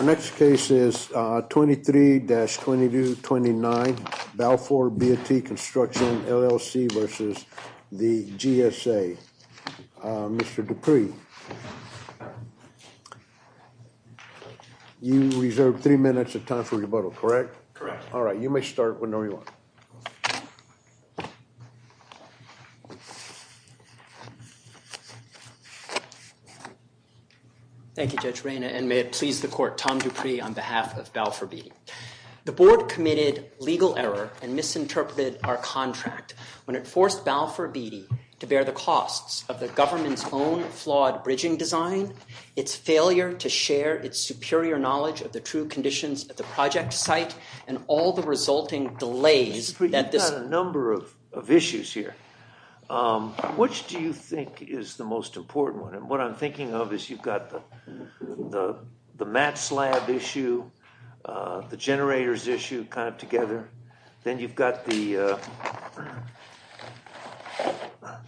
Our next case is 23-2229 Balfour Beatty Construction, LLC versus the GSA. Mr. Dupree, you reserve three minutes of time for rebuttal, correct? Correct. All right, you may start whenever you want. Thank you, Judge Rayna, and may it please the Court. Tom Dupree on behalf of Balfour Beatty. The Board committed legal error and misinterpreted our contract when it forced Balfour Beatty to bear the costs of the government's own flawed bridging design, its failure to share its superior knowledge of the true conditions at the project site, and all the resulting delays. Mr. Dupree, you've got a number of issues here. Which do you think is the most important one? And what I'm thinking of is you've got the mat slab issue, the generators issue kind of together, then you've got the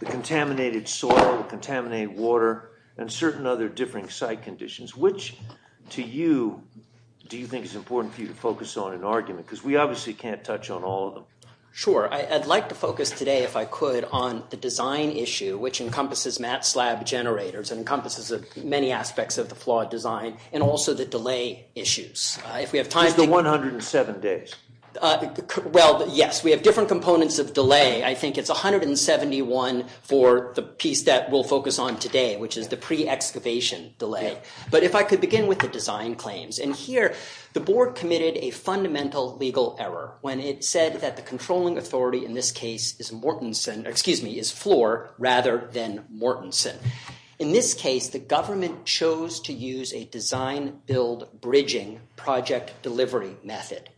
contaminated soil, the contaminated water, and certain other different site conditions. Which to you, do you think it's important for you to focus on an argument? Because we obviously can't touch on all of them. Sure, I'd like to focus today, if I could, on the design issue, which encompasses mat slab generators and encompasses many aspects of the flawed design, and also the delay issues. If we have time... It's the 107 days. Well, yes, we have different components of delay. I think it's 171 for the piece that we'll focus on today, which is the pre-excavation delay. But if I could begin with the design claims. And here, the board committed a fundamental legal error when it said that the controlling authority in this case is Mortensen... Excuse me, is Floor rather than Mortensen. In this case, the government chose to use a design build bridging project delivery method.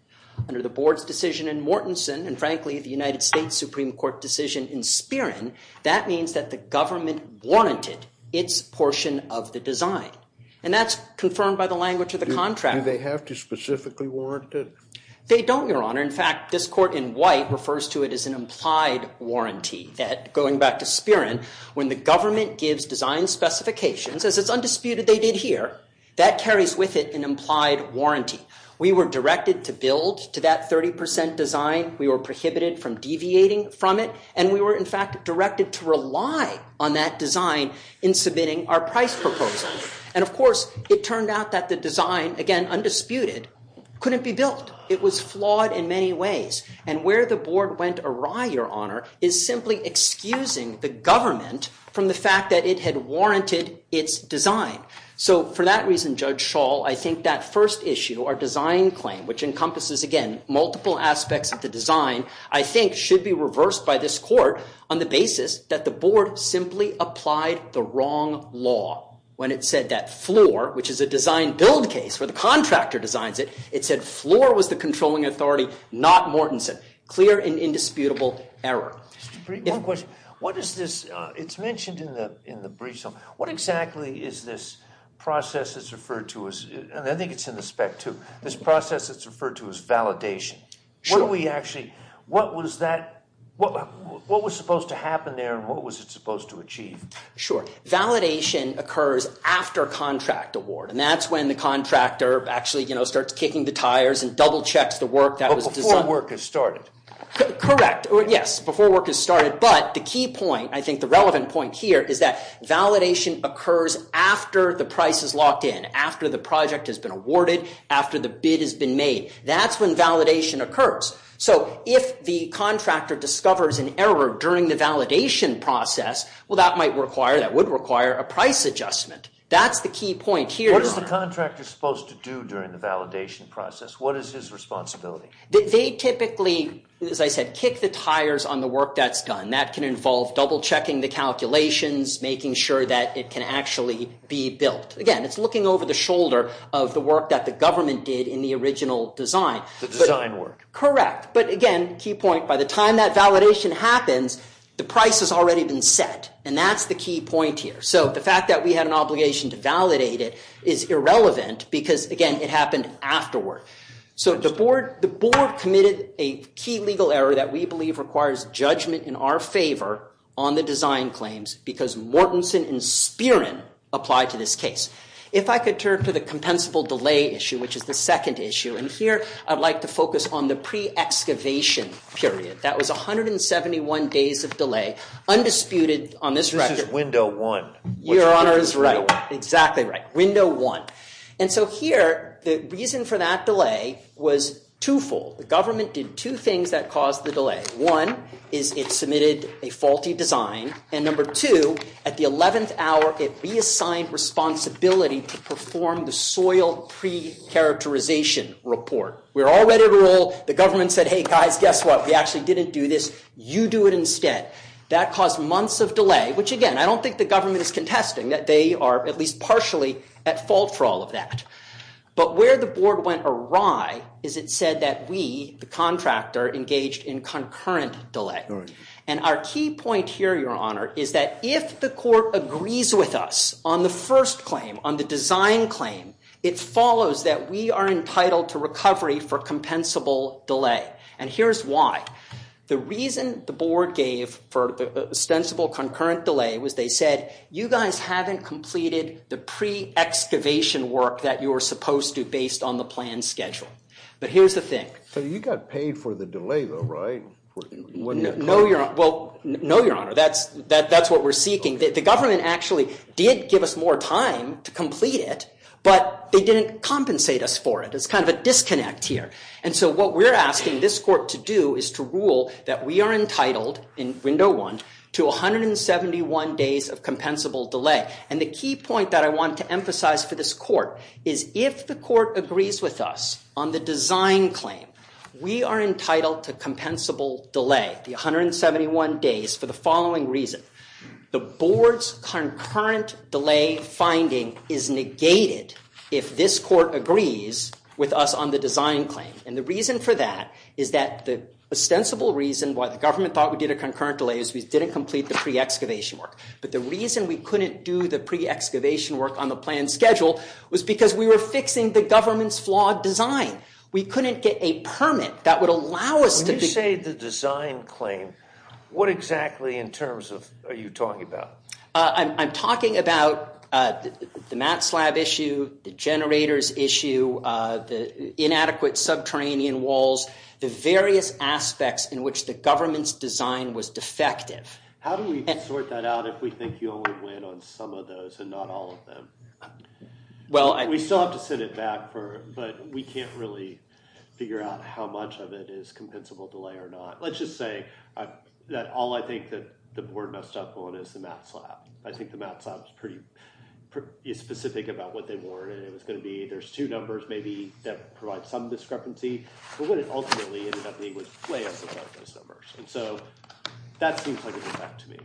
Under the board's decision in Mortensen, and frankly, the United States Supreme Court decision in Spirin, that means that the government warranted its portion of the design. And that's confirmed by the language of the contract. Do they have to specifically warrant it? They don't, Your Honor. In fact, this court in white refers to it as an implied warranty. That, going back to Spirin, when the government gives design specifications, as it's undisputed they did here, that carries with it an implied warranty. We were directed to build to that 30% design. We were inhibited from deviating from it. And we were, in fact, directed to rely on that design in submitting our price proposal. And of course, it turned out that the design, again, undisputed, couldn't be built. It was flawed in many ways. And where the board went awry, Your Honor, is simply excusing the government from the fact that it had warranted its design. So for that reason, Judge Schall, I think that first issue, our design claim, which encompasses, again, multiple aspects of the design, I think should be reversed by this court on the basis that the board simply applied the wrong law. When it said that floor, which is a design build case where the contractor designs it, it said floor was the controlling authority, not Mortenson. Clear and indisputable error. Mr. Breed, one question. What is this, it's mentioned in the brief, so what exactly is this process that's referred to as, and I think it's in the spec too, this process that's referred to as validation? What do we actually, what was that, what was supposed to happen there and what was it supposed to achieve? Sure. Validation occurs after contract award. And that's when the contractor actually, you know, starts kicking the tires and double checks the work that was done. Before work is started. Correct. Yes, before work is started. But the key point, I think the relevant point here, is that validation occurs after the price is locked in, after the project has been awarded, after the bid has been made. That's when validation occurs. So if the contractor discovers an error during the validation process, well that might require, that would require a price adjustment. That's the key point here. What is the contractor supposed to do during the validation process? What is his responsibility? They typically, as I said, kick the tires on the work that's done. That can involve double checking the calculations, making sure that it can actually be built. Again, it's looking over the shoulder of the work that the government did in the original design. The design work. Correct. But again, key point, by the time that validation happens, the price has already been set. And that's the key point here. So the fact that we had an obligation to validate it is irrelevant because, again, it happened afterward. So the board committed a key legal error that we believe requires judgment in our favor on the design claims because Mortenson and Spearman applied to this case. If I could turn to the compensable delay issue, which is the second issue, and here I'd like to focus on the pre-excavation period. That was 171 days of delay, undisputed on this record. This is window one. Your honor is right. Exactly right. Window one. And so here the reason for that delay was twofold. The government did two things that caused the delay. One is it submitted a faulty design. And number two, at the 11th hour, it reassigned responsibility to perform the soil pre-characterization report. We're all ready to roll. The government said, hey guys, guess what? We actually didn't do this. You do it instead. That caused months of delay, which again, I don't think the government is contesting that they are at least partially at fault for all of that. But where the board went awry is it said that we, the contractor, engaged in concurrent delay. And our key point here, your honor, is that if the court agrees with us on the first claim, on the design claim, it follows that we are entitled to recovery for compensable delay. And here's why. The reason the board gave for ostensible concurrent delay was they said, you guys haven't completed the pre-excavation work that you were supposed to based on the plan schedule. But here's the thing. So you got paid for the delay though, right? No, your honor. That's what we're seeking. The government actually did give us more time to complete it, but they didn't compensate us for it. It's kind of a disconnect here. And so what we're asking this court to do is to rule that we are entitled in window one to 171 days of compensable delay. And the key point that I want to emphasize for this court is if the court agrees with us on the design claim, we are entitled to compensable delay, the 171 days, for the following reason. The board's concurrent delay finding is negated if this court agrees with us on the design claim. And the reason for that is that the ostensible reason why the government thought we did a concurrent delay is we didn't complete the pre-excavation work. But the reason we couldn't do the pre-excavation work on the plan schedule was because we were fixing the government's flawed design. We couldn't get a permit that would allow us to- When you say the design claim, what exactly in terms of are you talking about? I'm talking about the mat slab issue, the generators issue, the inadequate subterranean walls, the various aspects in which the government's design was defective. How do we sort that out if we think you only went on some of those and not all of them? We still have to sit it back, but we can't really figure out how much of it is compensable delay or not. Let's just say that all I think that the board messed up on is the mat slab. I think the mat slab is pretty specific about what they warranted it was going to be. There's two numbers that provide some discrepancy, but what it ultimately ended up being was layoffs above those numbers. That seems like a defect to me.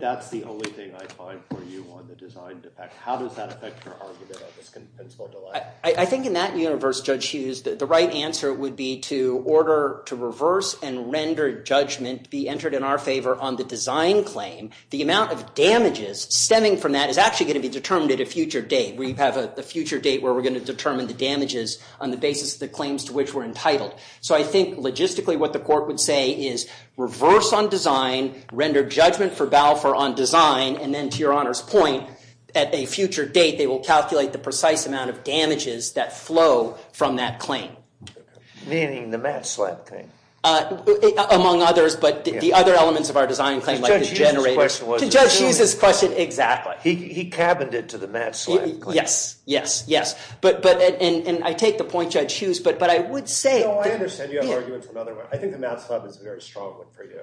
That's the only thing I find for you on the design defect. How does that affect your argument on this compensable delay? I think in that universe, Judge Hughes, the right answer would be to order to reverse and render judgment be entered in our favor on the design claim. The amount of damages stemming from that is actually going to be determined at a future date. We have a future date where we're determined the damages on the basis of the claims to which we're entitled. I think logistically, what the court would say is reverse on design, render judgment for Balfour on design, and then to your honor's point, at a future date, they will calculate the precise amount of damages that flow from that claim. Meaning the mat slab thing? Among others, but the other elements of our design claim like the generator. To Judge Hughes' question, exactly. He cabined it to the mat slab. Yes, yes, yes. I take the point, Judge Hughes, but I would say... No, I understand you have arguments for another one. I think the mat slab is a very strong one for you.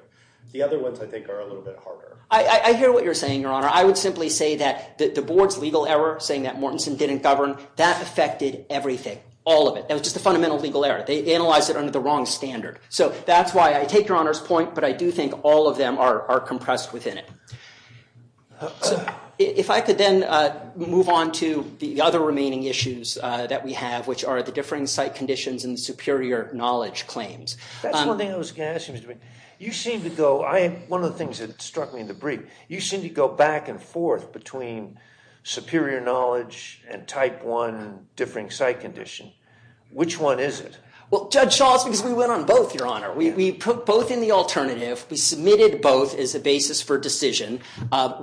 The other ones, I think, are a little bit harder. I hear what you're saying, your honor. I would simply say that the board's legal error, saying that Mortenson didn't govern, that affected everything, all of it. That was just a fundamental legal error. They analyzed it under the wrong standard. That's why I take your honor's point, but I do think all of them are compressed within it. If I could then move on to the other remaining issues that we have, which are the differing site conditions and superior knowledge claims. That's one thing I was going to ask you, Mr. McQueen. You seem to go... One of the things that struck me in the brief, you seem to go back and forth between superior knowledge and type one differing site condition. Which one is it? Well, Judge Shaw, it's because we went on both, your honor. We put both in the alternative. We submitted both as a basis for decision.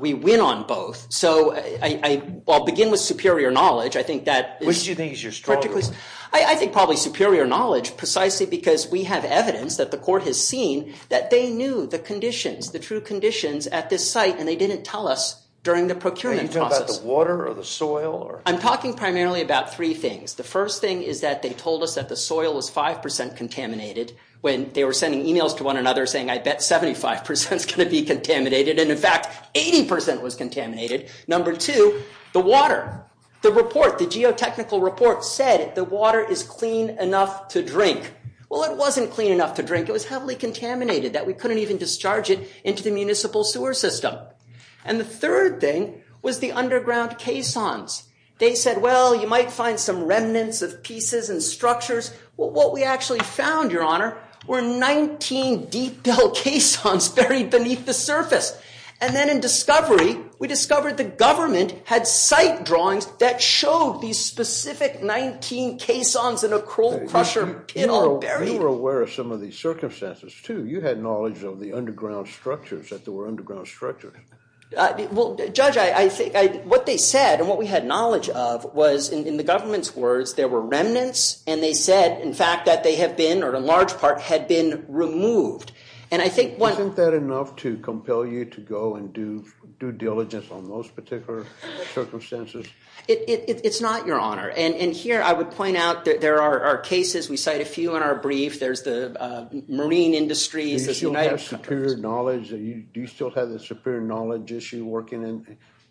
We went on both. I'll begin with superior knowledge. I think that... Which do you think is your strongest? I think probably superior knowledge, precisely because we have evidence that the court has seen that they knew the conditions, the true conditions at this site, and they didn't tell us during the procurement process. Are you talking about the water or the soil? I'm talking primarily about three things. The first thing is that they told us that the soil was 5% contaminated when they were sending emails to one another saying, I bet 75% is going to be contaminated. In fact, 80% was contaminated. Number two, the water. The report, the geotechnical report said the water is clean enough to drink. Well, it wasn't clean enough to drink. It was heavily contaminated that we couldn't even discharge it into the municipal sewer system. The third thing was the underground caissons. They said, well, you might find some remnants of pieces and structures. Well, what we actually found, Your Honor, were 19 detailed caissons buried beneath the surface. And then in discovery, we discovered the government had site drawings that showed these specific 19 caissons in a Kroll Crusher pit all buried. You were aware of some of these circumstances, too. You had knowledge of the underground structures, that there were underground structures. Well, Judge, what they said and what we had knowledge of was, in the government's words, there were remnants. And they said, in fact, that they have been, or in large part, had been removed. And I think one- Isn't that enough to compel you to go and do due diligence on those particular circumstances? It's not, Your Honor. And here, I would point out that there are cases. We cite a few in our brief. There's the marine industries. Do you still have the superior knowledge issue working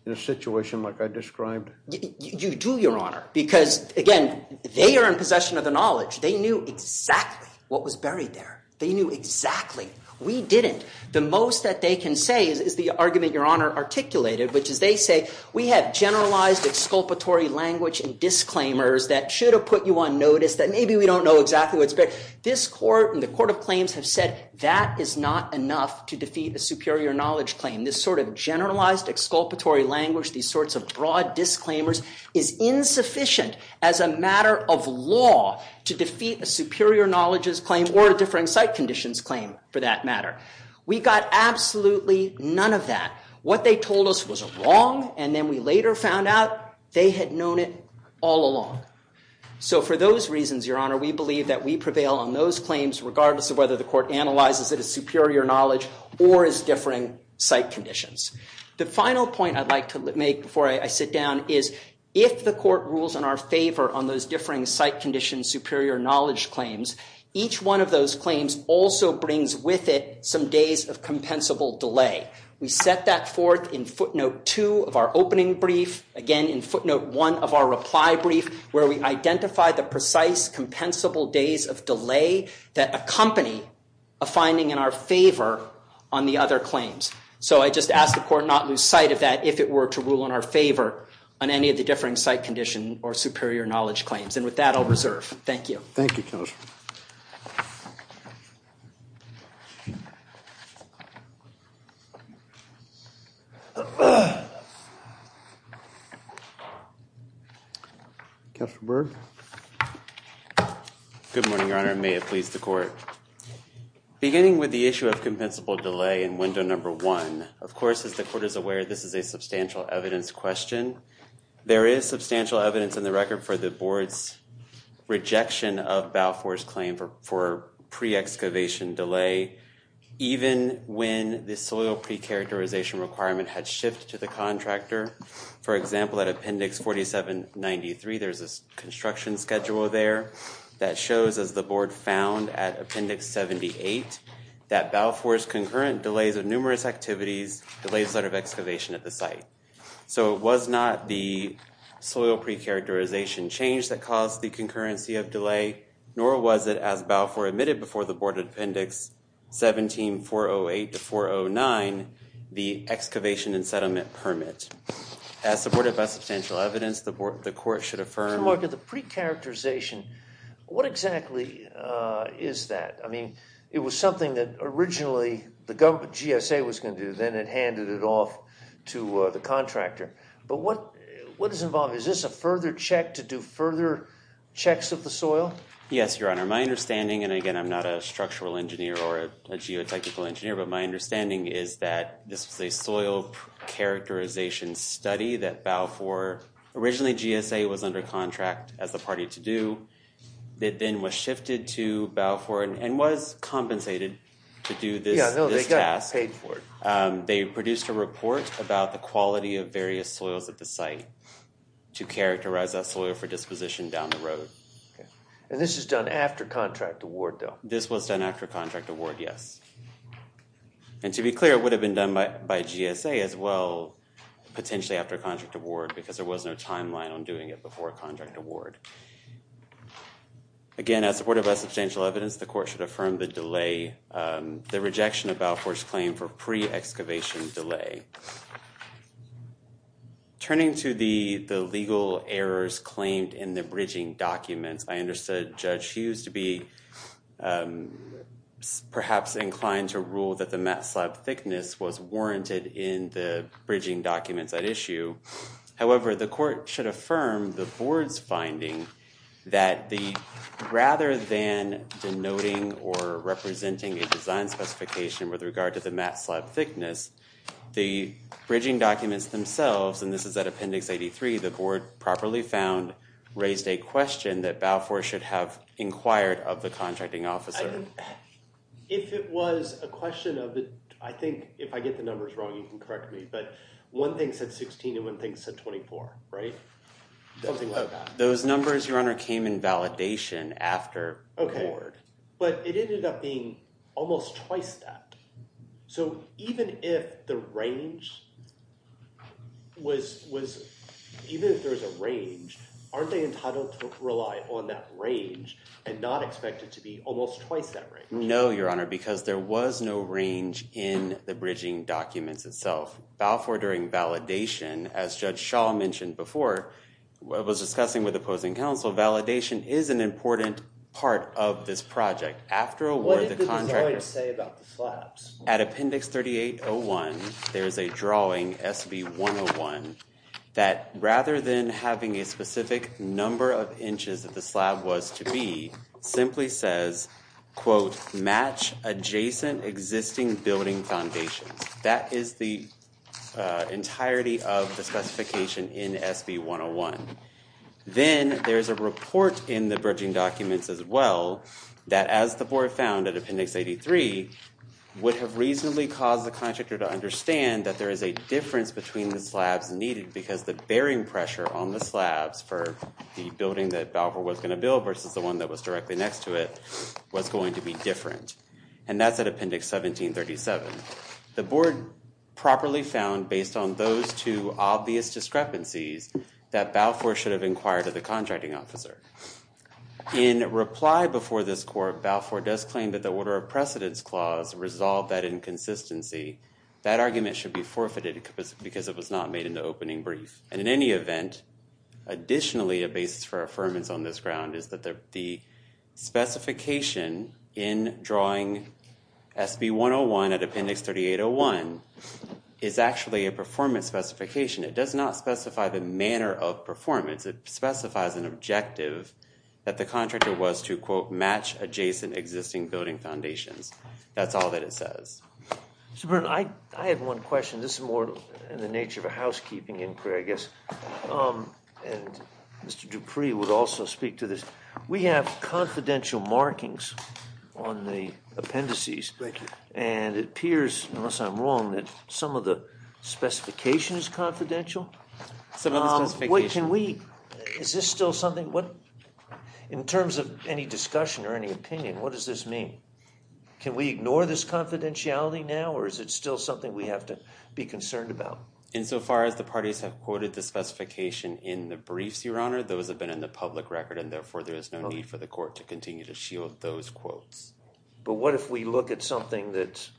in a situation like I described? You do, Your Honor, because, again, they are in possession of the knowledge. They knew exactly what was buried there. They knew exactly. We didn't. The most that they can say is the argument Your Honor articulated, which is they say, we have generalized exculpatory language and disclaimers that should have put you on notice, that maybe we don't know exactly what's buried. This court and the court of claims have said that is not enough to defeat a superior knowledge claim. This sort of generalized exculpatory language, these sorts of broad disclaimers, is insufficient as a matter of law to defeat a superior knowledge claim or a differing site conditions claim, for that matter. We got absolutely none of that. What they told us was wrong. And then we later found out they had known it all along. So for those reasons, Your Honor, we believe that we prevail on those claims, regardless of whether the court analyzes it as superior knowledge or as differing site conditions. The final point I'd like to make before I sit down is if the court rules in our favor on those differing site conditions superior knowledge claims, each one of those claims also brings with it some days of compensable delay. We set that forth in footnote two of our opening brief, again in footnote one of our reply brief, where we identify the precise So I just ask the court not lose sight of that if it were to rule in our favor on any of the differing site condition or superior knowledge claims. And with that, I'll reserve. Thank you. Thank you, Counselor. Counselor Berg. Good morning, Your Honor, and may it please the court. Beginning with the issue of compensable delay in window number one. Of course, as the court is aware, this is a substantial evidence question. There is substantial evidence in the record for the board's rejection of Balfour's claim for pre-excavation delay, even when the soil pre-characterization requirement had shifted to the contractor. For example, at appendix 4793, there's this construction schedule there that shows, as the board found at appendix 78, that Balfour's concurrent delays of numerous activities delays that of excavation at the site. So it was not the soil pre-characterization change that caused the concurrency of delay, nor was it as Balfour admitted before the board of appendix 17408 to 409, the excavation and settlement permit. As supported by substantial evidence, the court should affirm. The pre-characterization, what exactly is that? I mean, it was something that originally the GSA was going to do, then it handed it off to the contractor. But what is involved? Is this a further check to do further checks of the soil? Yes, Your Honor. My understanding, and again, I'm not a structural engineer or a geotechnical engineer, but my understanding is that this was a soil characterization study that Balfour, originally GSA was under contract as the party to do, that then was shifted to Balfour and was compensated to do this task. They produced a report about the quality of various soils at the site to characterize that soil for disposition down the road. Okay, and this is done after contract award This was done after contract award, yes. And to be clear, it would have been done by GSA as well, potentially after contract award, because there was no timeline on doing it before contract award. Again, as supported by substantial evidence, the court should affirm the delay, the rejection of Balfour's claim for pre-excavation delay. Turning to the legal errors claimed in the bridging documents, I understood Judge Hughes to be perhaps inclined to rule that the mat slab thickness was warranted in the bridging documents at issue. However, the court should affirm the Board's finding that the, rather than denoting or representing a design specification with regard to the mat slab thickness, the bridging documents themselves, and this is at Appendix 83, the Board properly found, raised a question that Balfour should have inquired of the contracting officer. If it was a question of, I think, if I get the numbers wrong, you can correct me, but one thing said 16 and one thing said 24, right? Something like that. Those numbers, Your Honor, came in validation after award. Okay, but it ended up being almost twice that. So even if the range was, even if there's a range, aren't they entitled to rely on that range and not expect it to be almost twice that range? No, Your Honor, because there was no range in the bridging documents itself. Balfour, during validation, as Judge Shaw mentioned before, was discussing with opposing counsel, validation is an important part of this project. After award, the contractor... What did the designer say about the slabs? At Appendix 3801, there's a drawing, SB 101, that rather than having a specific number of inches that the slab was to be, simply says, quote, match adjacent existing building foundations. That is the entirety of the specification in SB 101. Then there's a report in the bridging documents as well that, as the board found at Appendix 83, would have reasonably caused the contractor to understand that there is a difference between the slabs needed because the bearing pressure on the slabs for the building that Balfour was going to build versus the one that was directly next to it was going to be different, and that's at Appendix 1737. The board properly found, based on those two obvious discrepancies, that Balfour should have inquired of the contracting officer. In reply before this court, Balfour does claim that the order of precedence clause resolved that inconsistency. That argument should be forfeited because it was not made in the opening brief, and in any event, additionally, a basis for affirmance on this ground is that the specification in drawing SB 101 at Appendix 3801 is actually a performance specification. It does not specify the manner of performance. It specifies an objective that the contractor was to, quote, match adjacent existing building foundations. That's all that it says. Mr. Byrne, I had one question. This is more in the nature of a housekeeping inquiry, I guess, and Mr. Dupree would also speak to this. We have confidential markings on the appendices, and it appears, unless I'm wrong, that some of the specification is confidential. Is this still something? In terms of any discussion or any opinion, what does this mean? Can we ignore this confidentiality now, or is it still something we have to be concerned about? Insofar as the parties have quoted the specification in the briefs, Your Honor, those have been in the public record, and therefore there is no need for the court to shield those quotes. But what if we look at something that's,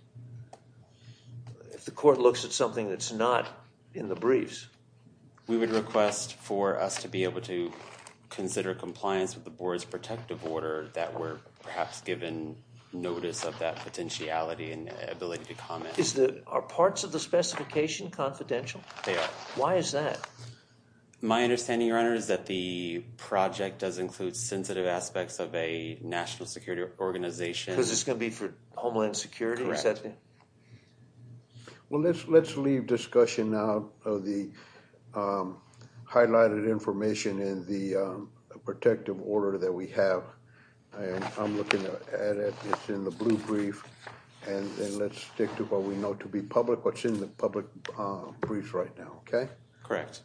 if the court looks at something that's not in the briefs? We would request for us to be able to consider compliance with the board's protective order that we're perhaps given notice of that potentiality and ability to comment. Are parts of the specification confidential? They are. Why is that? My understanding, Your Honor, is that the project does include sensitive aspects of a national security organization. Is this going to be for homeland security or something? Well, let's leave discussion now of the highlighted information in the protective order that we have. I'm looking at it. It's in the blue brief, and let's stick to what we know to be public, what's in the public briefs right now, okay? Correct.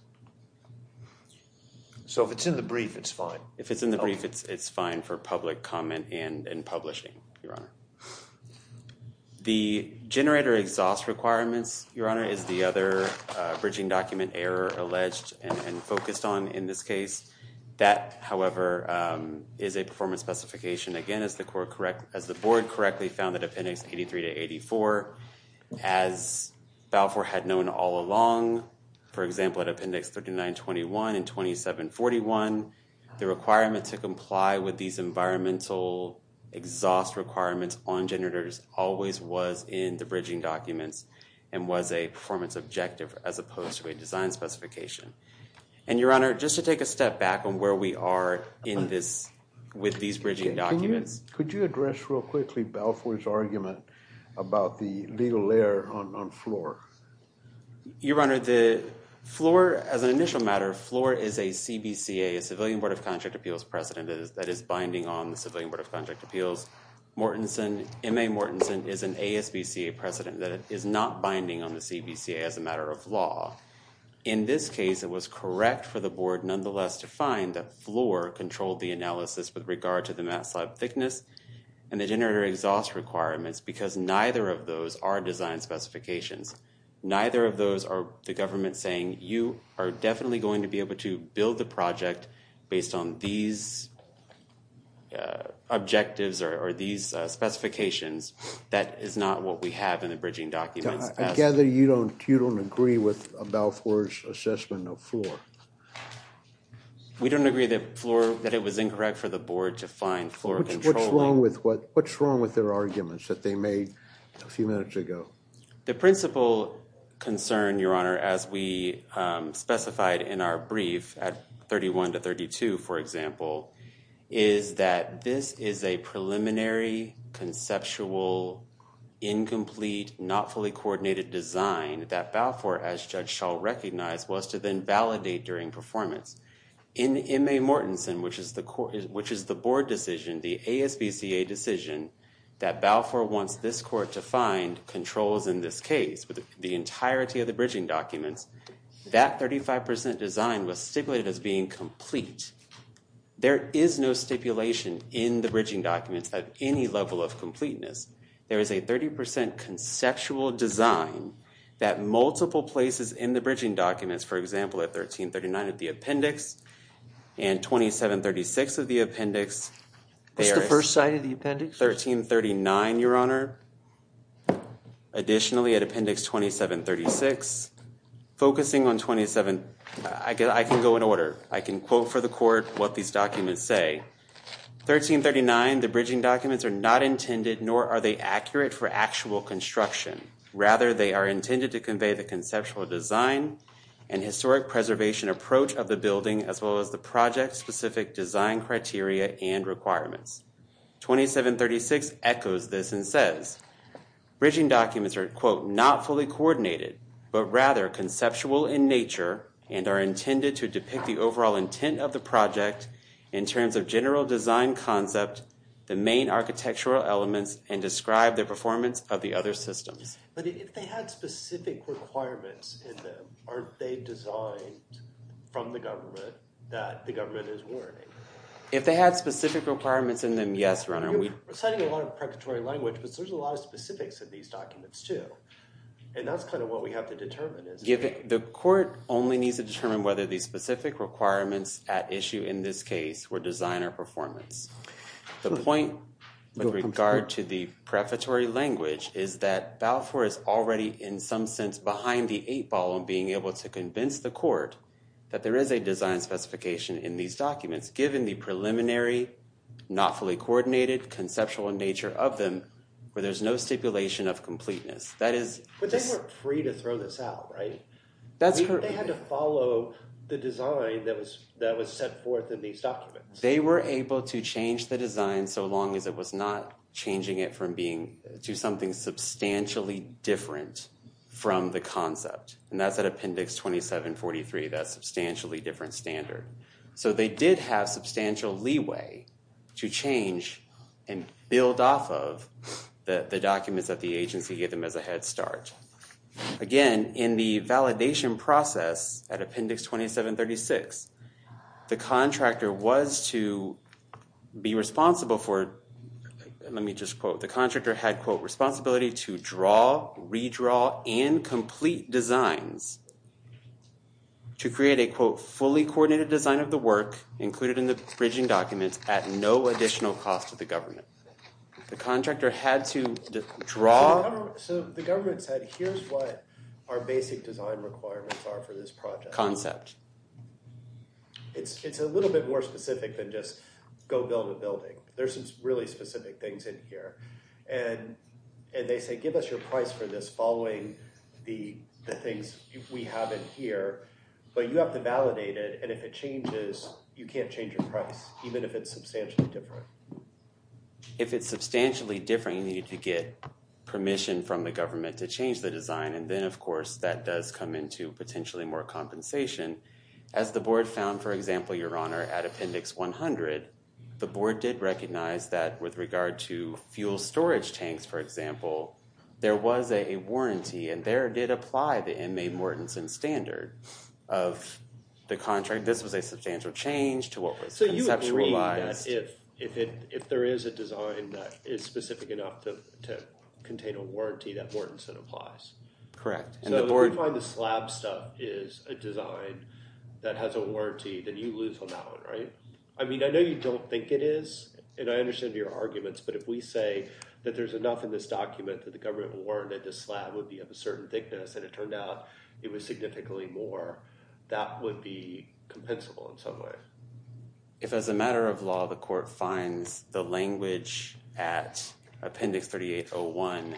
So if it's in the brief, it's fine? If it's in the brief, it's fine for public comment and publishing, Your Honor. The generator exhaust requirements, Your Honor, is the other bridging document error alleged and focused on in this case. That, however, is a performance specification. Again, as the board correctly found that Appendix 83 to 84, as Balfour had all along, for example, at Appendix 3921 and 2741, the requirement to comply with these environmental exhaust requirements on generators always was in the bridging documents and was a performance objective as opposed to a design specification. And, Your Honor, just to take a step back on where we are in this with these bridging documents. Could you address real quickly Balfour's argument about the legal layer on floor? Your Honor, the floor, as an initial matter, floor is a CBCA, a Civilian Board of Contract Appeals precedent that is binding on the Civilian Board of Contract Appeals. Mortensen, M.A. Mortensen, is an ASBCA precedent that is not binding on the CBCA as a matter of law. In this case, it was correct for the board nonetheless to find that floor controlled analysis with regard to the mat slab thickness and the generator exhaust requirements because neither of those are design specifications. Neither of those are the government saying you are definitely going to be able to build the project based on these objectives or these specifications. That is not what we have in the bridging documents. I gather you don't agree with Balfour's assessment of floor. We don't agree that floor, that it was incorrect for the board to find floor control. What's wrong with what, what's wrong with their arguments that they made a few minutes ago? The principal concern, Your Honor, as we specified in our brief at 31 to 32, for example, is that this is a preliminary, conceptual, incomplete, not fully coordinated design that Balfour, as Judge Schall recognized, was to then validate during performance. In M.A. Mortensen, which is the board decision, the ASBCA decision that Balfour wants this court to find controls in this case with the entirety of the bridging documents, that 35 percent design was stipulated as being complete. There is no stipulation in the bridging documents at any level of completeness. There is a 30 percent conceptual design that multiple places in the bridging documents, for example, at 1339 at the appendix and 2736 of the appendix. What's the first side of the appendix? 1339, Your Honor. Additionally, at appendix 2736, focusing on 27, I can go in order. I can quote for the court what these documents say. 1339, the bridging documents are not intended, nor are they accurate for actual construction. Rather, they are intended to convey the conceptual design and historic preservation approach of the building, as well as the project-specific design criteria and requirements. 2736 echoes this and says, bridging documents are, quote, not fully coordinated, but rather conceptual in nature and are intended to depict the overall intent of the project in terms of general design concept, the main architectural elements, and describe the performance of the other systems. But if they had specific requirements in them, aren't they designed from the government that the government is warning? If they had specific requirements in them, yes, Your Honor. We're citing a lot of preparatory language, but there's a lot of specifics in these documents too, and that's kind of what we have to determine. The court only needs to determine whether these specific requirements at issue in this case were design or performance. The point with regard to the preparatory language is that Balfour is already in some sense behind the eight ball in being able to convince the court that there is a design specification in these documents, given the preliminary, not fully coordinated, conceptual nature of them, where there's no stipulation of completeness. But they were free to throw this out, right? That's correct. They had to follow the design that was set forth in these documents. They were able to change the design so long as it was not changing it from being to something substantially different from the concept, and that's at Appendix 2743, that substantially different standard. So they did have substantial leeway to change and build off of the documents that the agency gave them as a head start. Again, in the validation process at Appendix 2736, the contractor was to be responsible for, let me just quote, the contractor had, quote, to draw, redraw, and complete designs to create a, quote, fully coordinated design of the work included in the bridging documents at no additional cost to the government. The contractor had to draw... So the government said, here's what our basic design requirements are for this project. Concept. It's a little bit more specific than just go build a building. There's some really specific things in here, and they say, give us your price for this following the things we have in here, but you have to validate it, and if it changes, you can't change your price, even if it's substantially different. If it's substantially different, you need to get permission from the government to change the design, and then, of course, that does come into potentially more compensation. As the board found, for example, your honor, at Appendix 100, the board did recognize that with regard to fuel storage tanks, for example, there was a warranty, and there did apply the M.A. Mortensen standard of the contract. This was a substantial change to what was conceptualized. So you agree that if there is a design that is specific enough to contain a warranty, that Mortensen applies? Correct. So you find the slab stuff is a design that has a warranty that you lose on that one, right? I mean, I know you don't think it is, and I understand your arguments, but if we say that there's enough in this document that the government warranted this slab would be of a certain thickness, and it turned out it was significantly more, that would be compensable in some way. If, as a matter of law, the court finds the language at Appendix 3801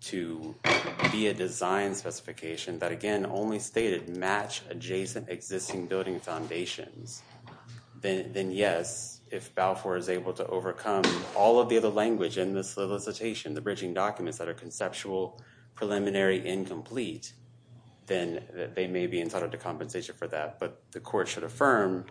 to be a design specification that, again, only stated match adjacent existing building foundations, then yes, if Balfour is able to overcome all of the other language in this solicitation, the bridging documents that are conceptual, preliminary, incomplete, then they may be entitled to compensation for that. But the court should affirm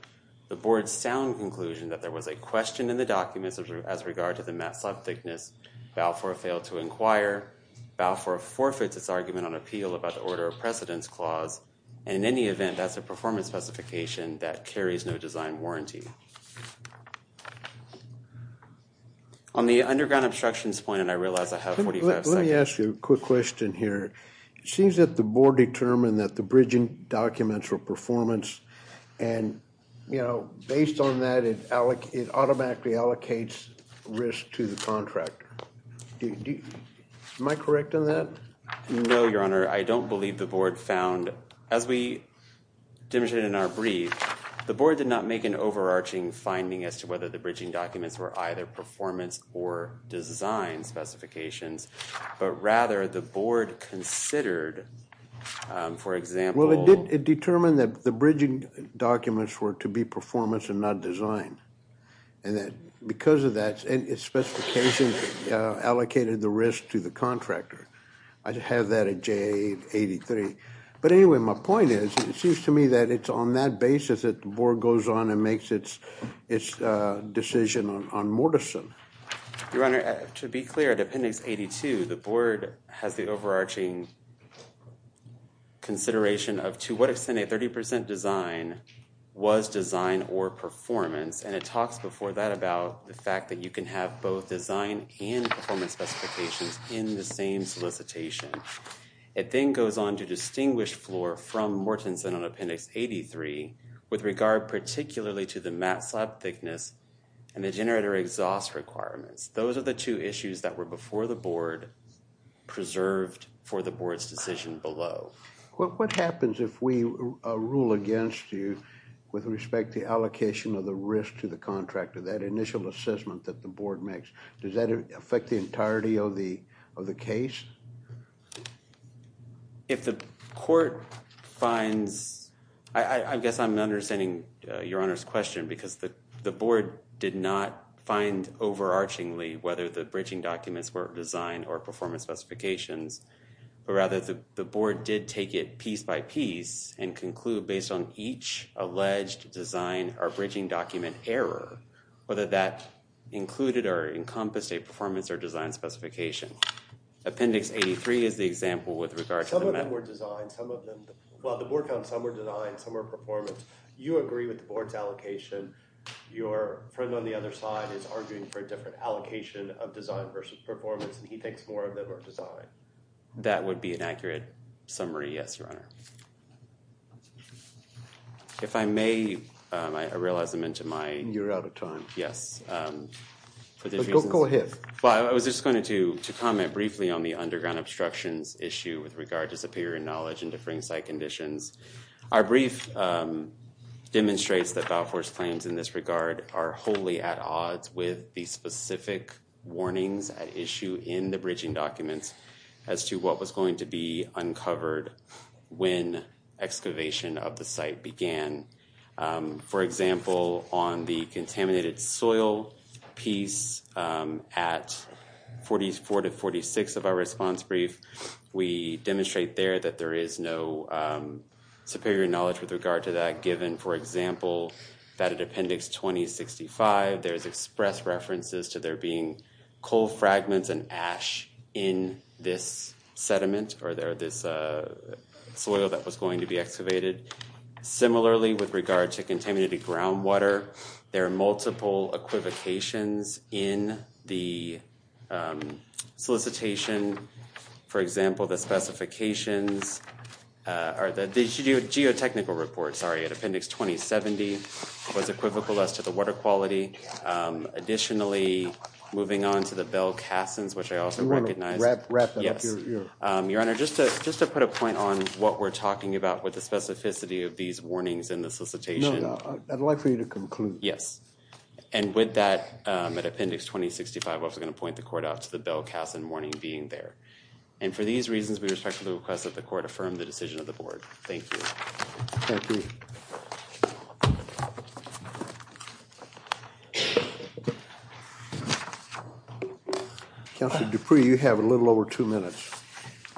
the board's sound conclusion that there was a question in the documents as regard to the mat slab thickness. Balfour failed to inquire. Balfour forfeits its appeal about the order of precedence clause, and in any event, that's a performance specification that carries no design warranty. On the underground obstructions point, and I realize I have 45 seconds. Let me ask you a quick question here. It seems that the board determined that the bridging documents were performance, and, you know, based on that, it automatically allocates risk to the contractor. Am I correct on that? No, your honor. I don't believe the board found, as we demonstrated in our brief, the board did not make an overarching finding as to whether the bridging documents were either performance or design specifications, but rather the board considered, for example... Well, it determined that the bridging documents were to be performance and not design, and that because of that, its specifications allocated the risk to the contractor. I have that at JA83. But anyway, my point is, it seems to me that it's on that basis that the board goes on and makes its decision on Mortison. Your honor, to be clear, at appendix 82, the board has the overarching consideration of to what extent a 30% design was design or performance, and it talks before that about the fact that you can have both design and performance specifications in the same solicitation. It then goes on to distinguish floor from Mortison on appendix 83 with regard particularly to the mat slab thickness and the generator exhaust requirements. Those are two issues that were before the board preserved for the board's decision below. What happens if we rule against you with respect to allocation of the risk to the contractor? That initial assessment that the board makes, does that affect the entirety of the case? If the court finds... I guess I'm understanding your honor's question because the board did not find overarchingly whether the bridging documents were design or performance specifications, but rather the board did take it piece by piece and conclude based on each alleged design or bridging document error, whether that included or encompassed a performance or design specification. Appendix 83 is the example with regard to... Some of them were design, some of them... Well, the board found some were design, some were performance. You agree with the board's allocation. Your friend on the other side is arguing for a different allocation of design versus performance and he thinks more of them are design. That would be an accurate summary. Yes, your honor. If I may, I realize I'm into my... You're out of time. Yes. Go ahead. Well, I was just going to comment briefly on the underground obstructions issue with regard to superior knowledge and site conditions. Our brief demonstrates that Balfour's claims in this regard are wholly at odds with the specific warnings at issue in the bridging documents as to what was going to be uncovered when excavation of the site began. For example, on the contaminated soil piece at 44 to 46 of our response brief, we demonstrate there that there is no superior knowledge with regard to that given, for example, that at Appendix 2065, there's expressed references to there being coal fragments and ash in this sediment or this soil that was going to be excavated. Similarly, with regard to contaminated groundwater, there are multiple equivocations in the solicitation. For example, the specifications or the geotechnical report, sorry, at Appendix 2070 was equivocal as to the water quality. Additionally, moving on to the Bell-Cassins, which I also recognize... Wrap it up. Yes. Your honor, just to put a point on what we're talking about with the specificity of these warnings in the Yes. And with that, at Appendix 2065, I was going to point the court out to the Bell-Cassin warning being there. And for these reasons, we respect the request that the court affirm the decision of the board. Thank you. Thank you. Counselor Dupree, you have a little over two minutes.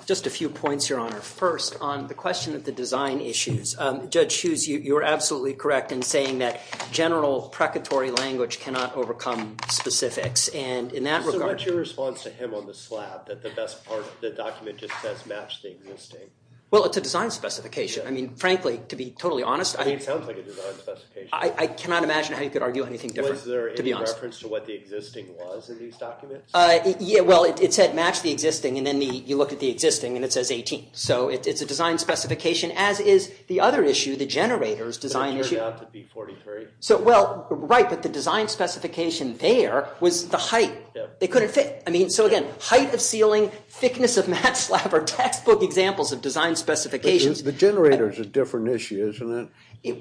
Just a few points, your honor. First, on the question of the design issues, Judge Hughes, you're absolutely correct in saying that general precatory language cannot overcome specifics. And in that regard... So what's your response to him on the slab that the best part, the document just says match the existing? Well, it's a design specification. I mean, frankly, to be totally honest... I mean, it sounds like a design specification. I cannot imagine how you could argue anything different, to be honest. Was there any reference to what the existing was in these documents? Yeah. Well, it said match the existing. And then you look at the existing and it says 18. So it's a design specification, as is the other issue, the generators design issue. But it turned out to be 43. So, well, right. But the design specification there was the height. They couldn't fit. I mean, so again, height of ceiling, thickness of mat slab are textbook examples of design specifications. The generators are a different issue, isn't it?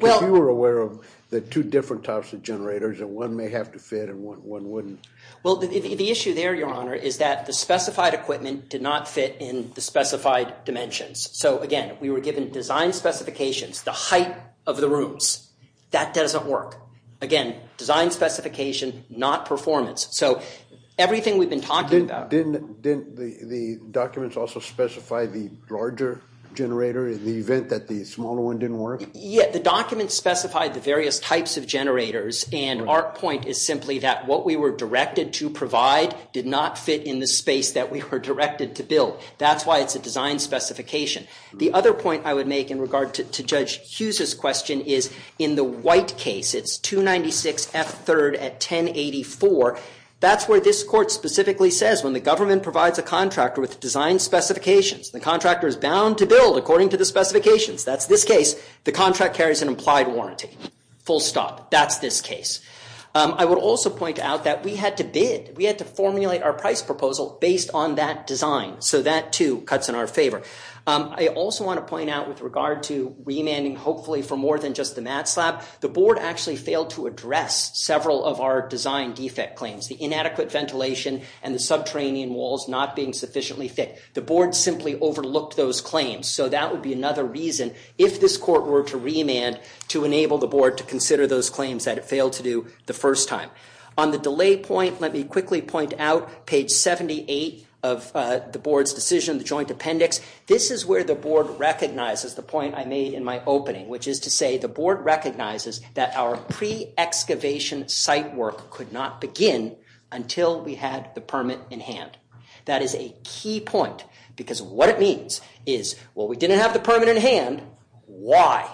Because you were aware of the two different types of generators and one may have to fit and one wouldn't. Well, the issue there, your honor, is that the specified equipment did not fit in the specified dimensions. So again, we were given design specifications, the height of the rooms. That doesn't work. Again, design specification, not performance. So everything we've been talking about... Didn't the documents also specify the larger generator in the event that the smaller one didn't work? Yeah, the document specified the various types of generators. And our point is simply that what we were directed to provide did not fit in the space that we were to build. That's why it's a design specification. The other point I would make in regard to Judge Hughes' question is in the White case, it's 296 F3rd at 1084. That's where this court specifically says when the government provides a contractor with design specifications, the contractor is bound to build according to the specifications. That's this case. The contract carries an implied warranty. Full stop. That's this case. I would also point out that we had to bid. We had to formulate our price proposal based on that design. So that too cuts in our favor. I also want to point out with regard to remanding hopefully for more than just the mat slab, the board actually failed to address several of our design defect claims. The inadequate ventilation and the subterranean walls not being sufficiently thick. The board simply overlooked those claims. So that would be another reason if this court were to remand to enable the board to consider those claims that it failed to do the first time. On the delay point, let me quickly point out page 78 of the board's decision, the joint appendix. This is where the board recognizes the point I made in my opening, which is to say the board recognizes that our pre-excavation site work could not begin until we had the permit in hand. That is a key point because what it means is, well, if we didn't have the permit in hand, why?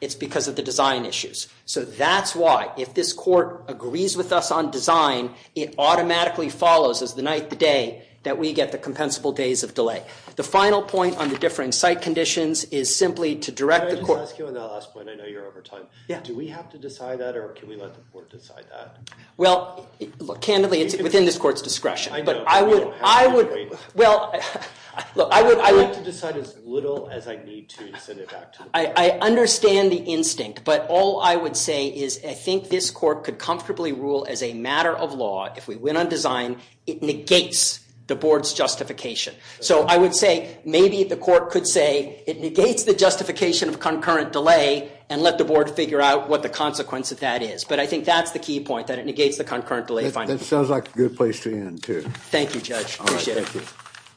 It's because of the design issues. So that's why if this court agrees with us on design, it automatically follows as the night the day that we get the compensable days of delay. The final point on the differing site conditions is simply to direct the court. Can I just ask you on that last point? I know you're over time. Do we have to decide that or can we let the board decide that? Well, look, candidly, it's within this court's discretion. I know, but we don't have to wait. Well, look, I would like to decide as little as I need to. I understand the instinct, but all I would say is I think this court could comfortably rule as a matter of law if we went on design, it negates the board's justification. So I would say maybe the court could say it negates the justification of concurrent delay and let the board figure out what the consequence of that is. But I think that's the key point, that it negates the concurrent delay. That sounds like a good place to end too. Thank you, Judge. Appreciate it.